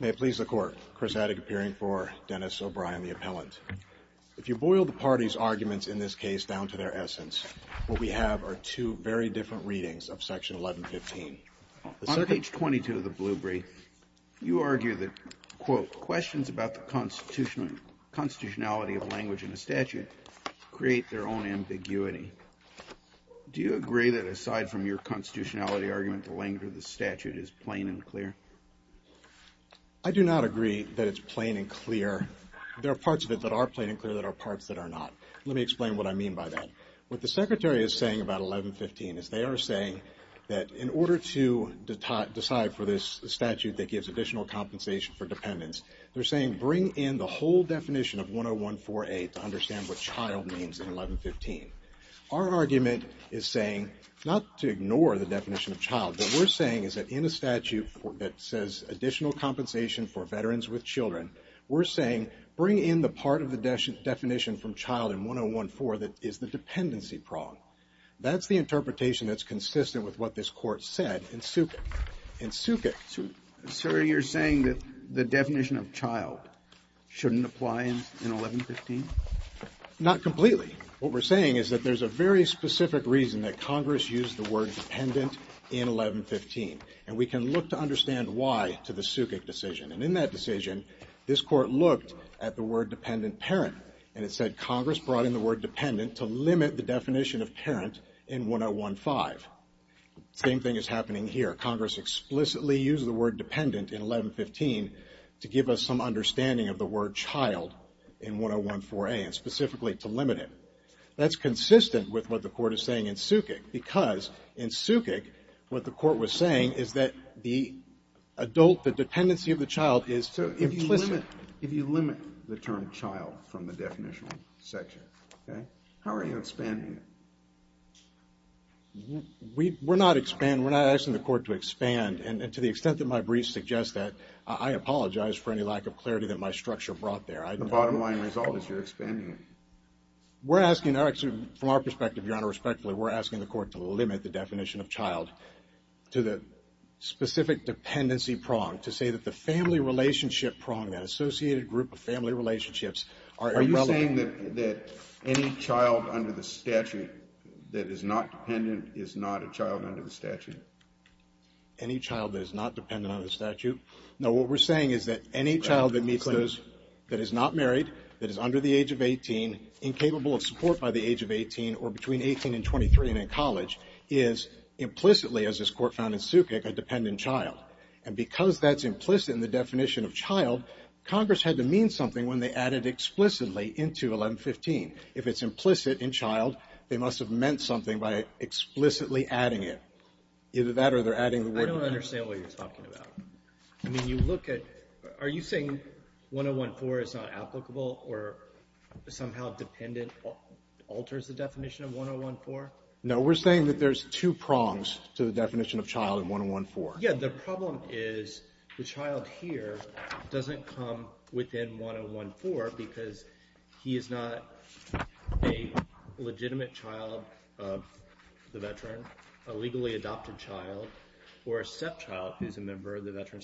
May it please the Court, Chris Haddock appearing for Dennis O'Brien the appellant. If you boil the party's arguments in this case down to their essence, what we have are two very different readings of section 1115. On page 22 of the blue brief, you argue that, quote, questions about the constitutionality of language in a statute create their own ambiguity. Do you agree that aside from your constitutionality argument, the statute is plain and clear? I do not agree that it's plain and clear. There are parts of it that are plain and clear that are parts that are not. Let me explain what I mean by that. What the Secretary is saying about 1115 is they are saying that in order to decide for this statute that gives additional compensation for dependents, they're saying bring in the whole definition of 10148 to understand what child means in 1115. Our argument is saying not to do that. What we're saying is that in a statute that says additional compensation for veterans with children, we're saying bring in the part of the definition from child in 1014 that is the dependency prong. That's the interpretation that's consistent with what this Court said in Sukuk. In Sukuk. So you're saying that the definition of child shouldn't apply in 1115? Not completely. What we're saying is that there's a very specific reason that we can look to understand why to the Sukuk decision. And in that decision, this Court looked at the word dependent parent and it said Congress brought in the word dependent to limit the definition of parent in 1015. Same thing is happening here. Congress explicitly used the word dependent in 1115 to give us some understanding of the word child in 1014A and specifically to limit it. That's consistent with what the Court is saying in Sukuk because in Sukuk what the Court was saying is that the adult, the dependency of the child is implicit. If you limit the term child from the definition section, okay, how are you expanding it? We're not expanding. We're not asking the Court to expand. And to the extent that my briefs suggest that, I apologize for any lack of clarity that my structure brought there. The bottom line result is you're expanding it. We're asking, actually from our perspective, Your Honor, respectfully, we're asking the Court to limit the definition of child to the specific dependency prong, to say that the family relationship prong, that associated group of family relationships are irrelevant. Are you saying that any child under the statute that is not dependent is not a child under the statute? Any child that is not dependent under the statute? No, what we're saying is that any child that meets those, that is not married, that is under the age of 18, incapable of support by the age of 18, or between 18 and 23 and in college, is implicitly, as this Court found in Sukuk, a dependent child. And because that's implicit in the definition of child, Congress had to mean something when they added explicitly into 1115. If it's implicit in child, they must have meant something by explicitly adding it. Either that or they're adding the word dependent. I don't understand what you're talking about. I mean, you look at, are you saying that 1014 is not applicable or somehow dependent alters the definition of 1014? No, we're saying that there's two prongs to the definition of child in 1014. Yeah, the problem is the child here doesn't come within 1014 because he is not a legitimate child of the veteran, a legally adopted child, or a stepchild who's a child of the veteran,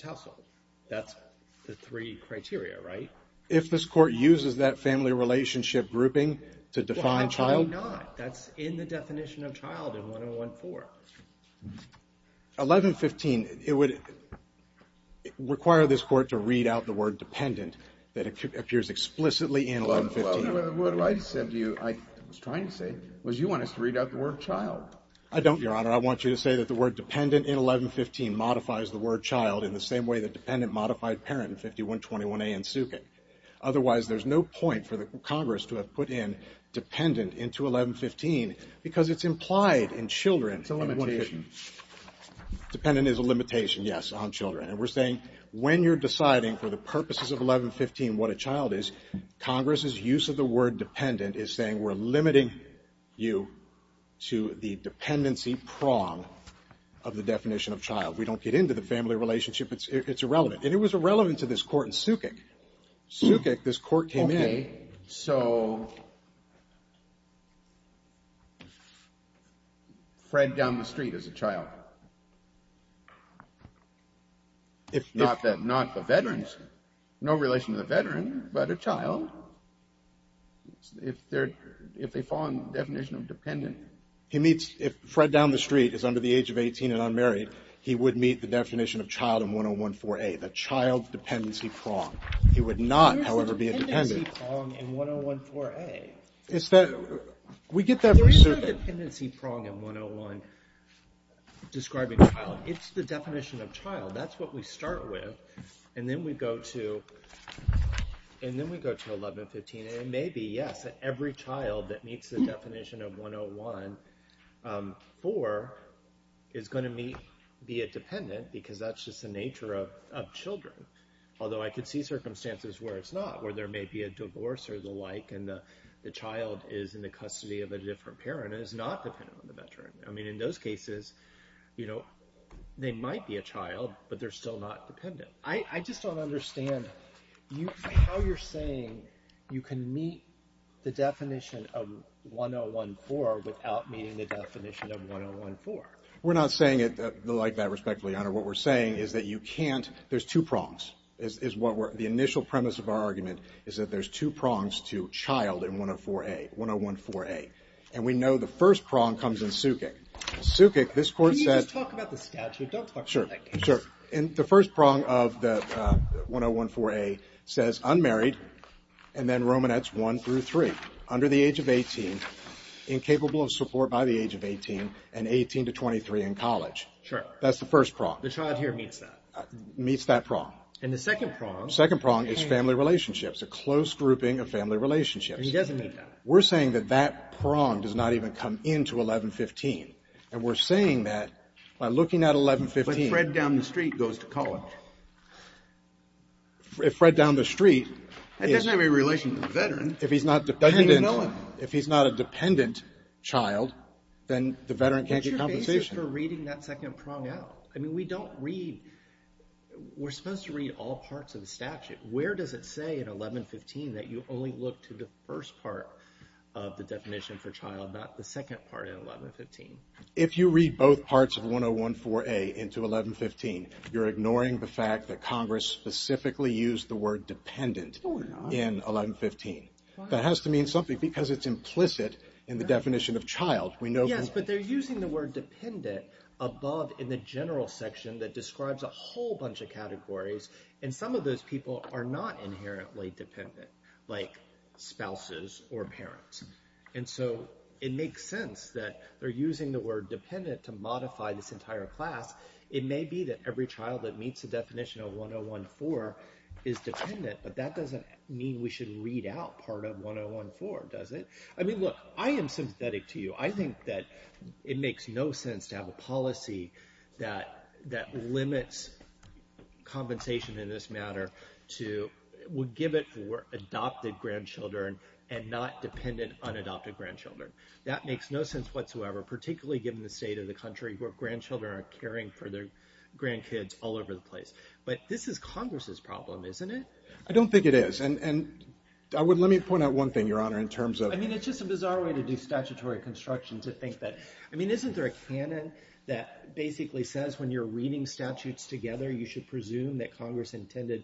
right? If this Court uses that family relationship grouping to define child? Why not? That's in the definition of child in 1014. 1115, it would require this Court to read out the word dependent that appears explicitly in 1115. Well, what I said to you, I was trying to say, was you want us to read out the word child? I don't, Your Honor. I want you to say that the word dependent in 1115 modifies the word child in the same way that dependent modified parent in 5121A in Sukik. Otherwise, there's no point for the Congress to have put in dependent into 1115 because it's implied in children. It's a limitation. Dependent is a limitation, yes, on children. And we're saying when you're deciding for the purposes of 1115 what a child is, Congress's use of the word dependent is saying we're limiting you to the dependency prong of the definition of child. We don't get into the family relationship. It's irrelevant. And it was irrelevant to this court in Sukik. Sukik, this court came in. Okay, so Fred down the street is a child. If not the veterans, no relation to the veteran, but a child. If they fall in the definition of dependent. If Fred down the street is under the age of 18 and unmarried, he would meet the definition of child in 1014A, the child dependency prong. He would not, however, be a dependent. There's a dependency prong in 1014A. Is that, we get that reason. There's no dependency prong in 101 describing child. It's the definition of child. That's what we start with. And then we go to, and then we go to 1115, and it may be, yes, that every child in 1014 is going to meet, be a dependent, because that's just the nature of children, although I could see circumstances where it's not, where there may be a divorce or the like, and the child is in the custody of a different parent and is not dependent on the veteran. I mean, in those cases, you know, they might be a child, but they're still not dependent. I just don't understand how you're saying you can meet the definition of 1014 without meeting the definition of 1014. We're not saying it like that, respectfully, Your Honor. What we're saying is that you can't, there's two prongs, is what we're, the initial premise of our argument is that there's two prongs to child in 104A, 1014A. And we know the first prong comes in Sukik. Sukik, this court said. Can you just talk about the statute? Don't talk about that case. Sure, sure. In the first prong of the 1014A says unmarried, and then Romanettes one through three, under the age of 18, incapable of support by the age of 18, and 18 to 23 in college. Sure. That's the first prong. The child here meets that. Meets that prong. And the second prong. Second prong is family relationships. A close grouping of family relationships. And he doesn't meet that. We're saying that that prong does not even come into 1115. And we're saying that by looking at 1115. But Fred down the street goes to college. If Fred down the street. That doesn't have any relation to the veteran. If he's not dependent. If he's not a dependent child, then the veteran can't get compensation. But your case is for reading that second prong out. I mean, we don't read. We're supposed to read all parts of the statute. Where does it say in 1115 that you only look to the first part of the definition for child, not the second part in 1115? If you read both parts of 1014A into 1115, you're ignoring the fact that Congress specifically used the word dependent in 1115. That has to mean something because it's implicit in the definition of child. We know. Yes, but they're using the word dependent above in the general section that describes a whole bunch of categories. And some of those people are not inherently dependent, like spouses or parents. And so it makes sense that they're using the word dependent to modify this entire class. It may be that every child that meets the definition of 1014 is dependent, but that doesn't mean we should read out part of 1014, does it? I mean, look, I am sympathetic to you. I think that it makes no sense to have a policy that limits compensation in this matter to give it for adopted grandchildren and not dependent unadopted grandchildren. That makes no sense whatsoever, particularly given the state of the country where grandchildren are caring for their grandkids all over the place. But this is Congress's problem, isn't it? I don't think it is. And let me point out one thing, Your Honor, in terms of- I mean, it's just a bizarre way to do statutory construction to think that- I mean, isn't there a canon that basically says, when you're reading statutes together, you should presume that Congress intended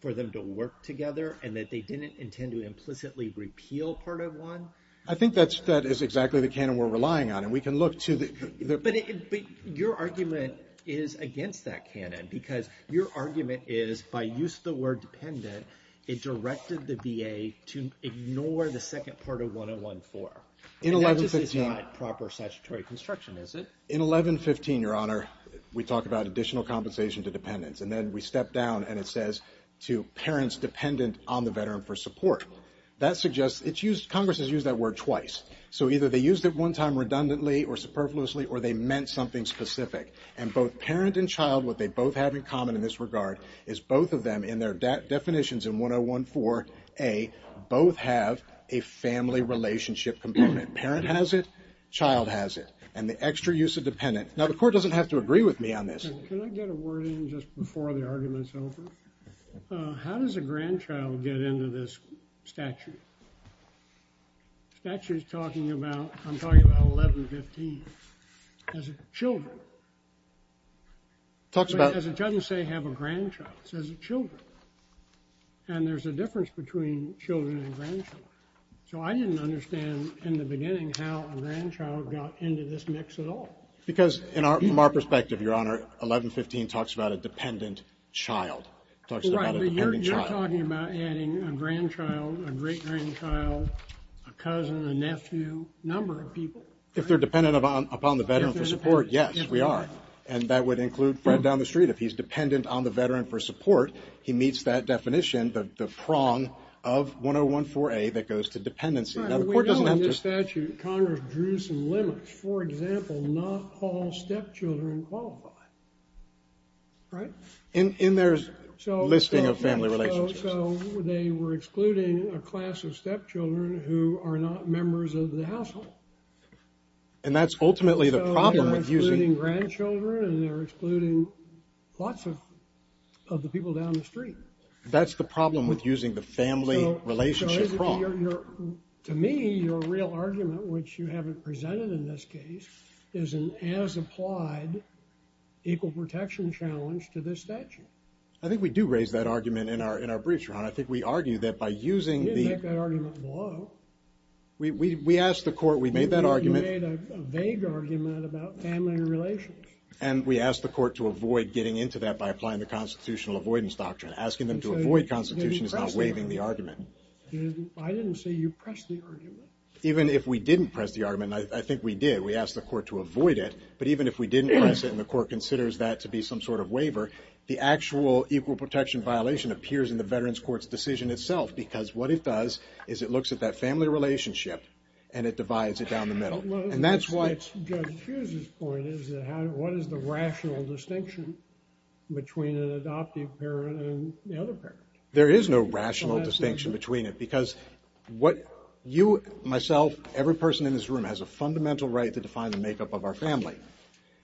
for them to work together and that they didn't intend to implicitly repeal part of one? I think that is exactly the canon we're relying on. And we can look to the- But your argument is against that canon. Because your argument is, by use of the word dependent, it directed the VA to ignore the second part of 1014. In 1115- I mean, that just is not proper statutory construction, is it? In 1115, Your Honor, we talk about additional compensation to dependents. And then we step down, and it says to parents dependent on the veteran for support. That suggests it's used- Congress has used that word twice. So either they used it one time redundantly or superfluously, or they meant something specific. And both parent and child, what they both have in common in this regard, is both of them, in their definitions in 1014a, both have a family relationship component. Parent has it. Child has it. And the extra use of dependent- now, the Court doesn't have to agree with me on this. Can I get a word in just before the argument's over? How does a grandchild get into this statute? Statute's talking about- I'm talking about 1115 as a children. Talks about- But as it doesn't say have a grandchild. It says children. And there's a difference between children and grandchildren. So I didn't understand in the beginning how a grandchild got into this mix at all. Because in our- from our perspective, Your Honor, 1115 talks about a dependent child. Talks about a dependent child. We're talking about adding a grandchild, a great grandchild, a cousin, a nephew, number of people. If they're dependent upon the veteran for support, yes, we are. And that would include Fred down the street. If he's dependent on the veteran for support, he meets that definition, the prong of 1014a that goes to dependency. Now, the Court doesn't have to- We know in this statute, Congress drew some limits. For example, not all stepchildren qualify, right? In their listing of family relationships. So they were excluding a class of stepchildren who are not members of the household. And that's ultimately the problem with using- So they're excluding grandchildren and they're excluding lots of the people down the street. That's the problem with using the family relationship prong. To me, your real argument, which you haven't presented in this case, is an as-applied equal protection challenge to this statute. I think we do raise that argument in our briefs, Ron. I think we argue that by using the- You didn't make that argument below. We asked the Court, we made that argument- You made a vague argument about family relations. And we asked the Court to avoid getting into that by applying the constitutional avoidance doctrine. Asking them to avoid constitution is not waiving the argument. I didn't say you pressed the argument. Even if we didn't press the argument, and I think we did, we asked the Court to avoid it. But even if we didn't press it and the Court considers that to be some sort of waiver, the actual equal protection violation appears in the Veterans Court's decision itself. Because what it does is it looks at that family relationship and it divides it down the middle. And that's why- Judge Hughes's point is that what is the rational distinction between an adoptive parent and the other parent? There is no rational distinction between it. Because what you, myself, every person in this room has a fundamental right to define the makeup of our family.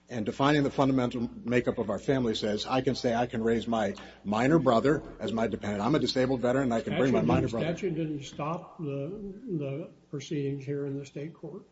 And defining the fundamental makeup of our family says, I can say I can raise my minor brother as my dependent. I'm a disabled veteran and I can bring my minor brother- The statute didn't stop the proceedings here in the state court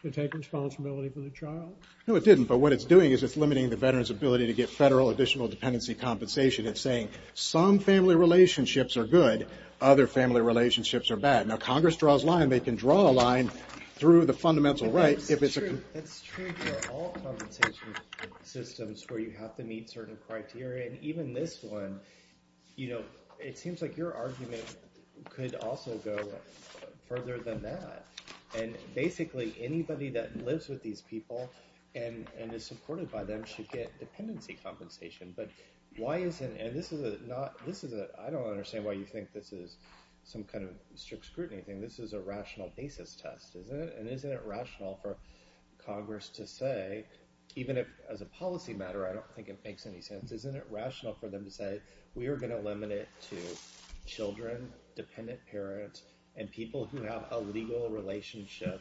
to take responsibility for the child. No, it didn't. But what it's doing is it's limiting the veteran's ability to get federal additional dependency compensation. It's saying some family relationships are good, other family relationships are bad. Now, Congress draws a line. They can draw a line through the fundamental right if it's- That's true for all compensation systems where you have to meet certain criteria. And even this one, it seems like your argument could also go further than that. And basically, anybody that lives with these people and is supported by them should get dependency compensation. But why isn't, and this is a not, this is a, I don't understand why you think this is some kind of strict scrutiny thing. This is a rational basis test, isn't it? And isn't it rational for Congress to say, even as a policy matter, I don't think it makes any sense, isn't it rational for them to say, we are gonna limit it to children, dependent parents, and people who have a legal relationship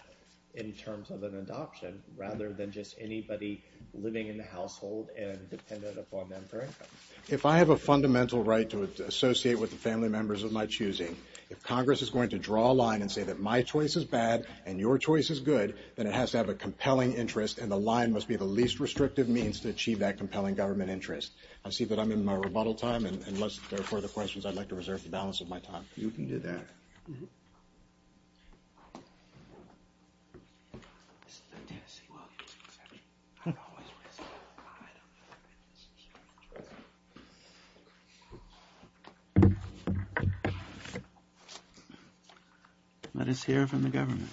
in terms of an adoption rather than just anybody living in the household and dependent upon them for income? If I have a fundamental right to associate with the family members of my choosing, if Congress is going to draw a line and say that my choice is bad and your choice is good, then it has to have a compelling interest and the line must be the least restrictive means to achieve that compelling government interest. I see that I'm in my rebuttal time and unless there are further questions, I'd like to reserve the balance of my time. You can do that. This is a Tennessee Williams exception. I don't always respond to that. Let us hear from the government.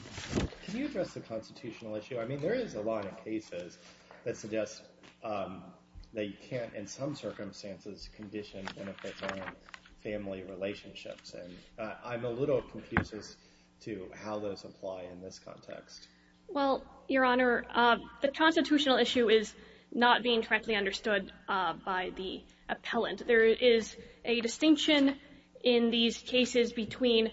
Can you address the constitutional issue? I mean, there is a lot of cases that suggest that you can't, in some circumstances, condition benefits on family relationships and I'm a little confused as to how those apply in this context. Well, your honor, the constitutional issue is not being correctly understood by the appellant. There is a distinction in these cases between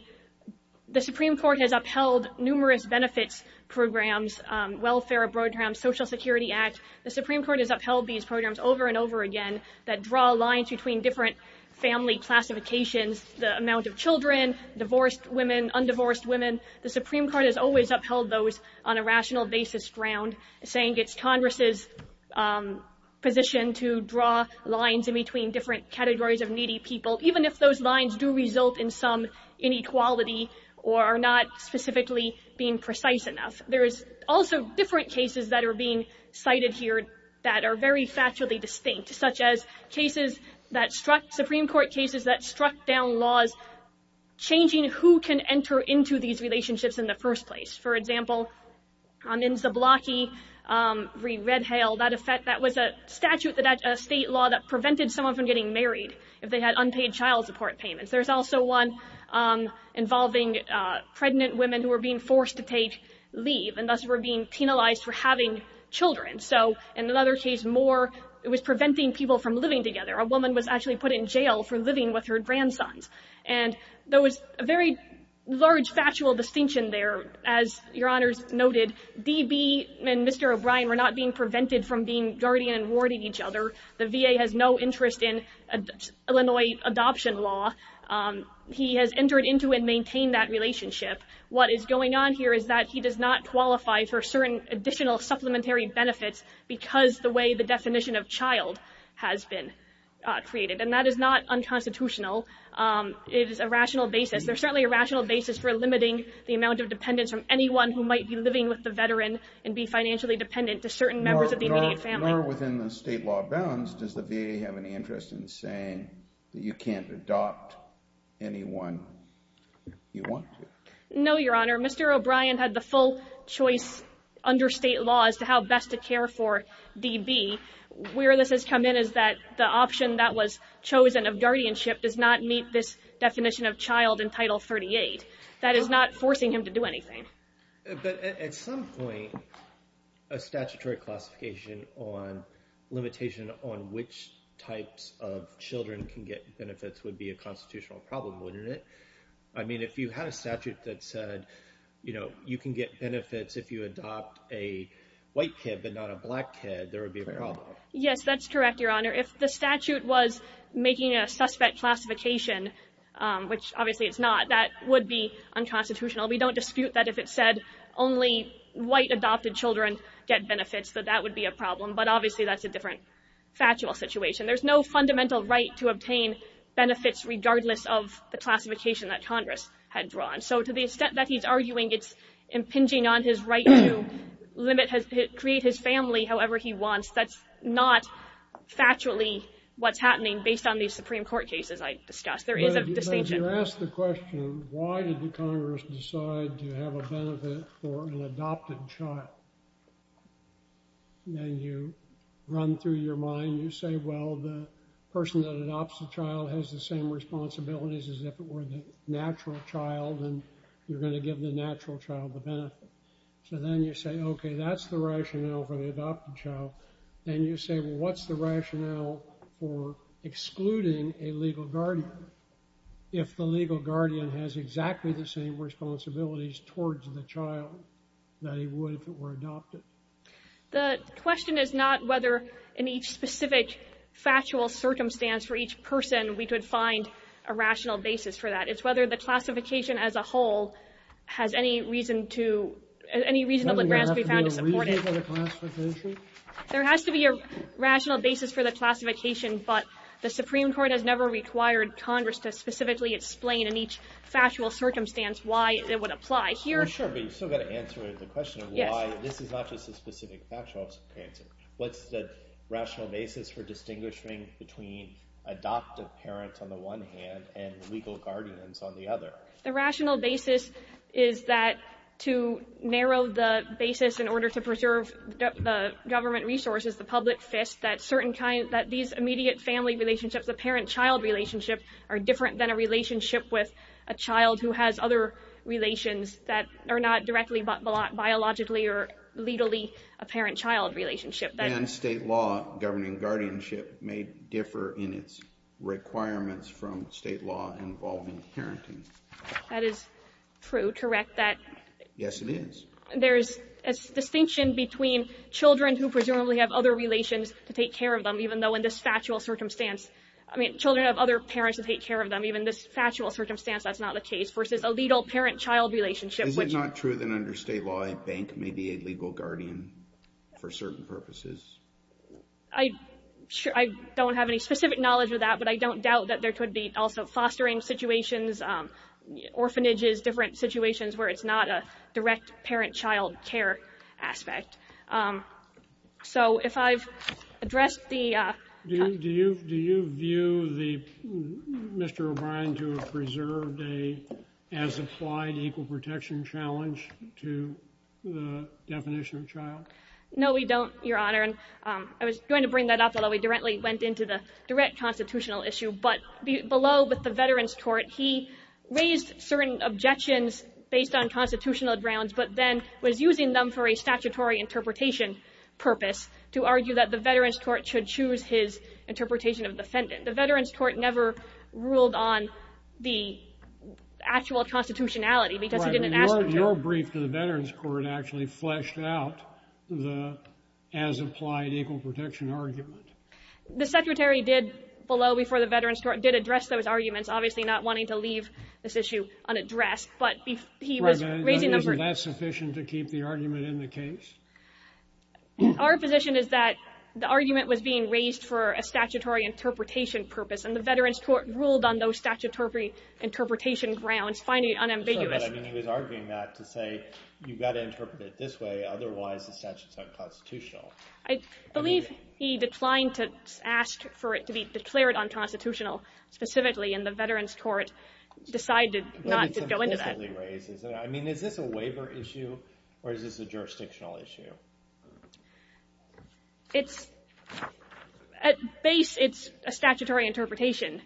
the Supreme Court has upheld numerous benefits programs, welfare programs, Social Security Act. The Supreme Court has upheld these programs over and over again that draw lines between different family classifications, the amount of children, divorced women, undivorced women. The Supreme Court has always upheld those on a rational basis ground, saying it's Congress's position to draw lines in between different categories of needy people, even if those lines do result in some inequality or are not specifically being precise enough. There is also different cases that are being cited here that are very factually distinct, such as cases that struck, Supreme Court cases that struck down laws changing who can enter into these relationships in the first place. For example, in Zablocki v. Red Hail, that was a statute, a state law that prevented someone from getting married if they had unpaid child support payments. There's also one involving pregnant women who were being forced to take leave and thus were being penalized for having children. So in another case more, it was preventing people from living together. A woman was actually put in jail for living with her grandsons. And there was a very large factual distinction there. As your honors noted, DB and Mr. O'Brien were not being prevented from being guardian and warding each other. The VA has no interest in Illinois adoption law. He has entered into and maintained that relationship. What is going on here is that he does not qualify for certain additional supplementary benefits because the way the definition of child has been created. And that is not unconstitutional. It is a rational basis. There's certainly a rational basis for limiting the amount of dependence from anyone who might be living with the veteran and be financially dependent to certain members of the immediate family. Nor within the state law bounds, does the VA have any interest in saying that you can't adopt anyone you want to? No, your honor. Mr. O'Brien had the full choice under state law as to how best to care for DB. Where this has come in is that the option that was chosen of guardianship does not meet this definition of child in Title 38. That is not forcing him to do anything. But at some point a statutory classification on limitation on which types of children can get benefits would be a constitutional problem, wouldn't it? I mean, if you had a statute that said, you know, you can get benefits if you adopt a white kid but not a black kid, there would be a problem. Yes, that's correct, your honor. If the statute was making a suspect classification, which obviously it's not, that would be unconstitutional. We don't dispute that if it said only white adopted children get benefits, that that would be a problem. But obviously that's a different factual situation. There's no fundamental right to obtain benefits regardless of the classification that Congress had drawn. So to the extent that he's arguing it's impinging on his right to limit, create his family however he wants, that's not factually what's happening based on these Supreme Court cases I discussed. There is a distinction. But if you ask the question, why did the Congress decide to have a benefit for an adopted child? Then you run through your mind. You say, well, the person that adopts the child has the same responsibilities as if it were the natural child and you're gonna give the natural child the benefit. So then you say, okay, that's the rationale for the adopted child. Then you say, well, what's the rationale for excluding a legal guardian if the legal guardian has exactly the same responsibilities towards the child that he would if it were adopted? The question is not whether in each specific factual circumstance for each person we could find a rational basis for that. It's whether the classification as a whole has any reason to, any reasonable grasp we found to support it. There has to be a reason for the classification? There has to be a rational basis for the classification, but the Supreme Court has never required Congress to specifically explain in each factual circumstance why it would apply. Sure, but you still gotta answer the question why this is not just a specific factual circumstance. What's the rational basis for distinguishing between adoptive parents on the one hand and legal guardians on the other? The rational basis is that to narrow the basis in order to preserve the government resources, the public fist, that certain kinds, that these immediate family relationships, the parent-child relationship are different than a relationship with a child who has other relations that are not directly biologically or legally a parent-child relationship. And state law governing guardianship may differ in its requirements from state law involving parenting. That is true, correct, that? Yes, it is. There's a distinction between children who presumably have other relations to take care of them, even though in this factual circumstance, I mean, children have other parents to take care of them, even in this factual circumstance, that's not the case, versus a legal parent-child relationship. Is it not true that under state law, a bank may be a legal guardian for certain purposes? I don't have any specific knowledge of that, but I don't doubt that there could be also fostering situations, orphanages, different situations where it's not a direct parent-child care aspect. So if I've addressed the... Do you view Mr. O'Brien to have preserved a, as applied, equal protection challenge to the definition of child? No, we don't, Your Honor, and I was going to bring that up although we directly went into the direct constitutional issue, but below with the Veterans Court, he raised certain objections based on constitutional grounds but then was using them for a statutory interpretation purpose to argue that the Veterans Court should choose his interpretation of defendant. The Veterans Court never ruled on the actual constitutionality because he didn't ask for it. Your brief to the Veterans Court actually fleshed out the, as applied, equal protection argument. The Secretary did, below before the Veterans Court, did address those arguments, obviously not wanting to leave this issue unaddressed, but he was raising them for... Isn't that sufficient to keep the argument in the case? Our position is that the argument was being raised for a statutory interpretation purpose and the Veterans Court ruled on those statutory interpretation grounds, finding it unambiguous. But I mean, he was arguing that to say, you've got to interpret it this way, otherwise the statute's unconstitutional. I believe he declined to ask for it to be declared unconstitutional specifically and the Veterans Court decided not to go into that. But it's implicitly raised, isn't it? I mean, is this a waiver issue or is this a jurisdictional issue? It's, at base, it's a statutory interpretation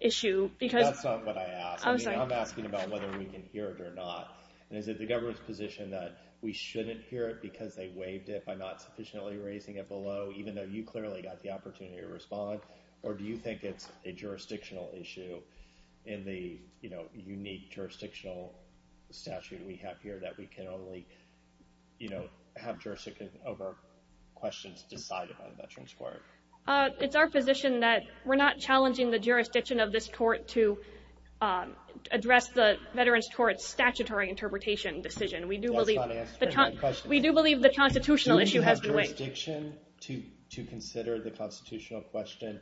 issue because... That's not what I asked. I'm sorry. I'm asking about whether we can hear it or not. And is it the government's position that we shouldn't hear it because they waived it by not sufficiently raising it below, even though you clearly got the opportunity to respond? Or do you think it's a jurisdictional issue in the unique jurisdictional statute we have here that we can only have jurisdiction over questions decided by the Veterans Court? It's our position that we're not challenging the jurisdiction of this court to address the Veterans Court's statutory interpretation decision. We do believe... That's not answering my question. We do believe the constitutional issue has to wait. Do we have jurisdiction to consider the constitutional question?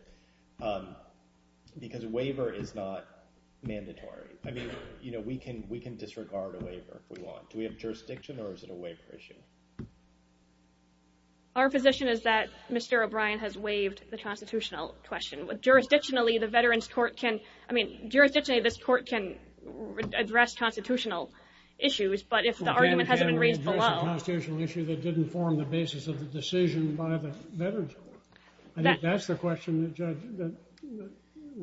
Because a waiver is not mandatory. I mean, we can disregard a waiver if we want. Do we have jurisdiction or is it a waiver issue? Our position is that Mr. O'Brien has waived the constitutional question. Jurisdictionally, the Veterans Court can... I mean, jurisdictionally, this court can address constitutional issues, but if the argument hasn't been raised below... We can't address a constitutional issue that didn't form the basis of the decision by the Veterans Court. I think that's the question that's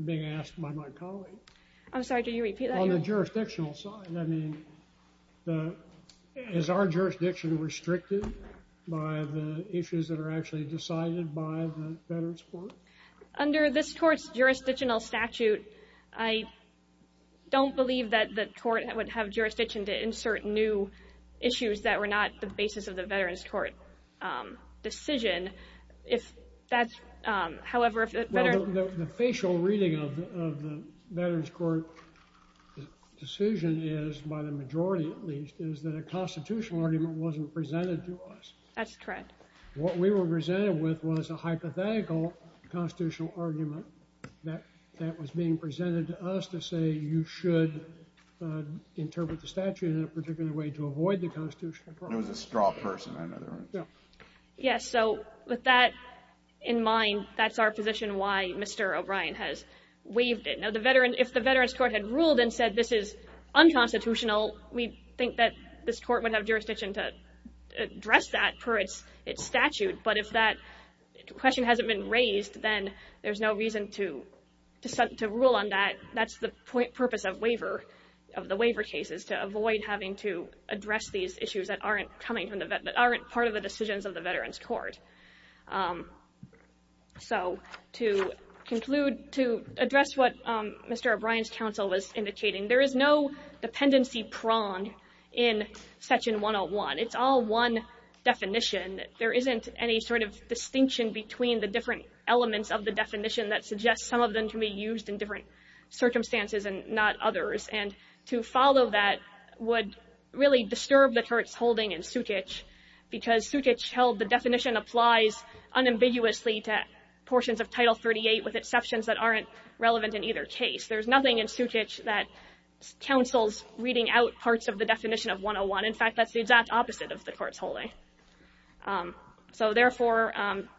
being asked by my colleague. I'm sorry, do you repeat that? On the jurisdictional side, I mean, is our jurisdiction restricted by the issues that are actually decided by the Veterans Court? Under this court's jurisdictional statute, I don't believe that the court would have jurisdiction to insert new issues that were not the basis of the Veterans Court decision. However, if the Veterans... The facial reading of the Veterans Court decision is, by the majority at least, is that a constitutional argument wasn't presented to us. That's correct. What we were presented with was a hypothetical constitutional argument that was being presented to us to say you should interpret the statute in a particular way to avoid the constitutional problem. It was a straw person, I know that. Yes, so with that in mind, that's our position why Mr. O'Brien has waived it. Now, if the Veterans Court had ruled and said this is unconstitutional, we think that this court would have jurisdiction to address that per its statute. But if that question hasn't been raised, then there's no reason to rule on that. That's the purpose of the waiver cases, to avoid having to address these issues that aren't part of the decisions of the Veterans Court. So to conclude, to address what Mr. O'Brien's counsel was indicating, there is no dependency prong in section 101. It's all one definition. There isn't any sort of distinction between the different elements of the definition that suggests some of them can be used in different circumstances and not others. And to follow that would really disturb the court's holding in Sutich, because Sutich held the definition applies unambiguously to portions of Title 38 with exceptions that aren't relevant in either case. There's nothing in Sutich that counsels reading out parts of the definition of 101. In fact, that's the exact opposite of the court's holding. So therefore,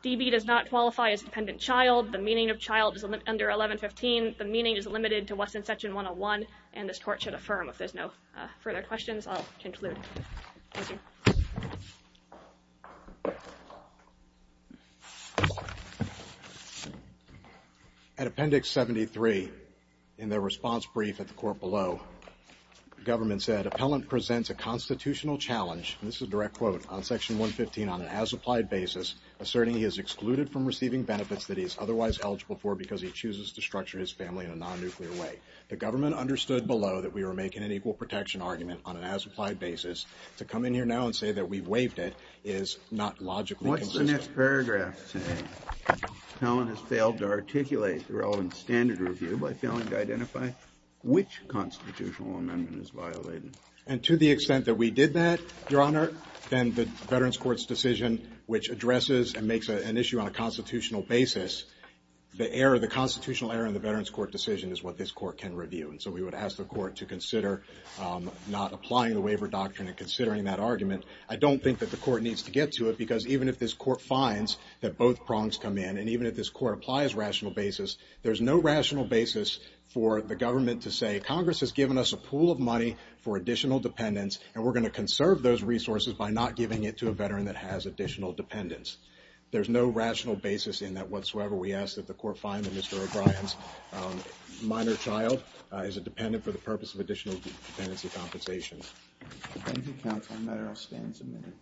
DB does not qualify as dependent child. The meaning of child is under 1115. The meaning is limited to what's in section 101, and this court should affirm. If there's no further questions, I'll conclude. Thank you. At Appendix 73, in the response brief at the court below, the government said, appellant presents a constitutional challenge, and this is a direct quote, on section 115 on an as-applied basis, asserting he is excluded from receiving benefits that he is otherwise eligible for because he chooses to structure his family in a non-nuclear way. The government understood below that we were making an equal protection argument this is a non-nuclear case, this is a non-nuclear case, this is a non-nuclear case, and to say that we waived it is not logically consistent. What's the next paragraph saying? Appellant has failed to articulate the relevant standard review by failing to identify which constitutional amendment is violated. And to the extent that we did that, Your Honor, then the Veterans Court's decision, which addresses and makes an issue on a constitutional basis, the error, the constitutional error in the Veterans Court decision is what this court can review. And so we would ask the court to consider not applying the waiver doctrine and considering that argument. I don't think that the court needs to get to it because even if this court finds that both prongs come in and even if this court applies rational basis, there's no rational basis for the government to say Congress has given us a pool of money for additional dependents and we're going to conserve those resources by not giving it to a veteran that has additional dependents. There's no rational basis in that whatsoever. We ask that the court find that Mr. O'Brien's minor child is a dependent for the purpose of additional dependency compensation. Thank you, counsel. I'm going to stand for a minute.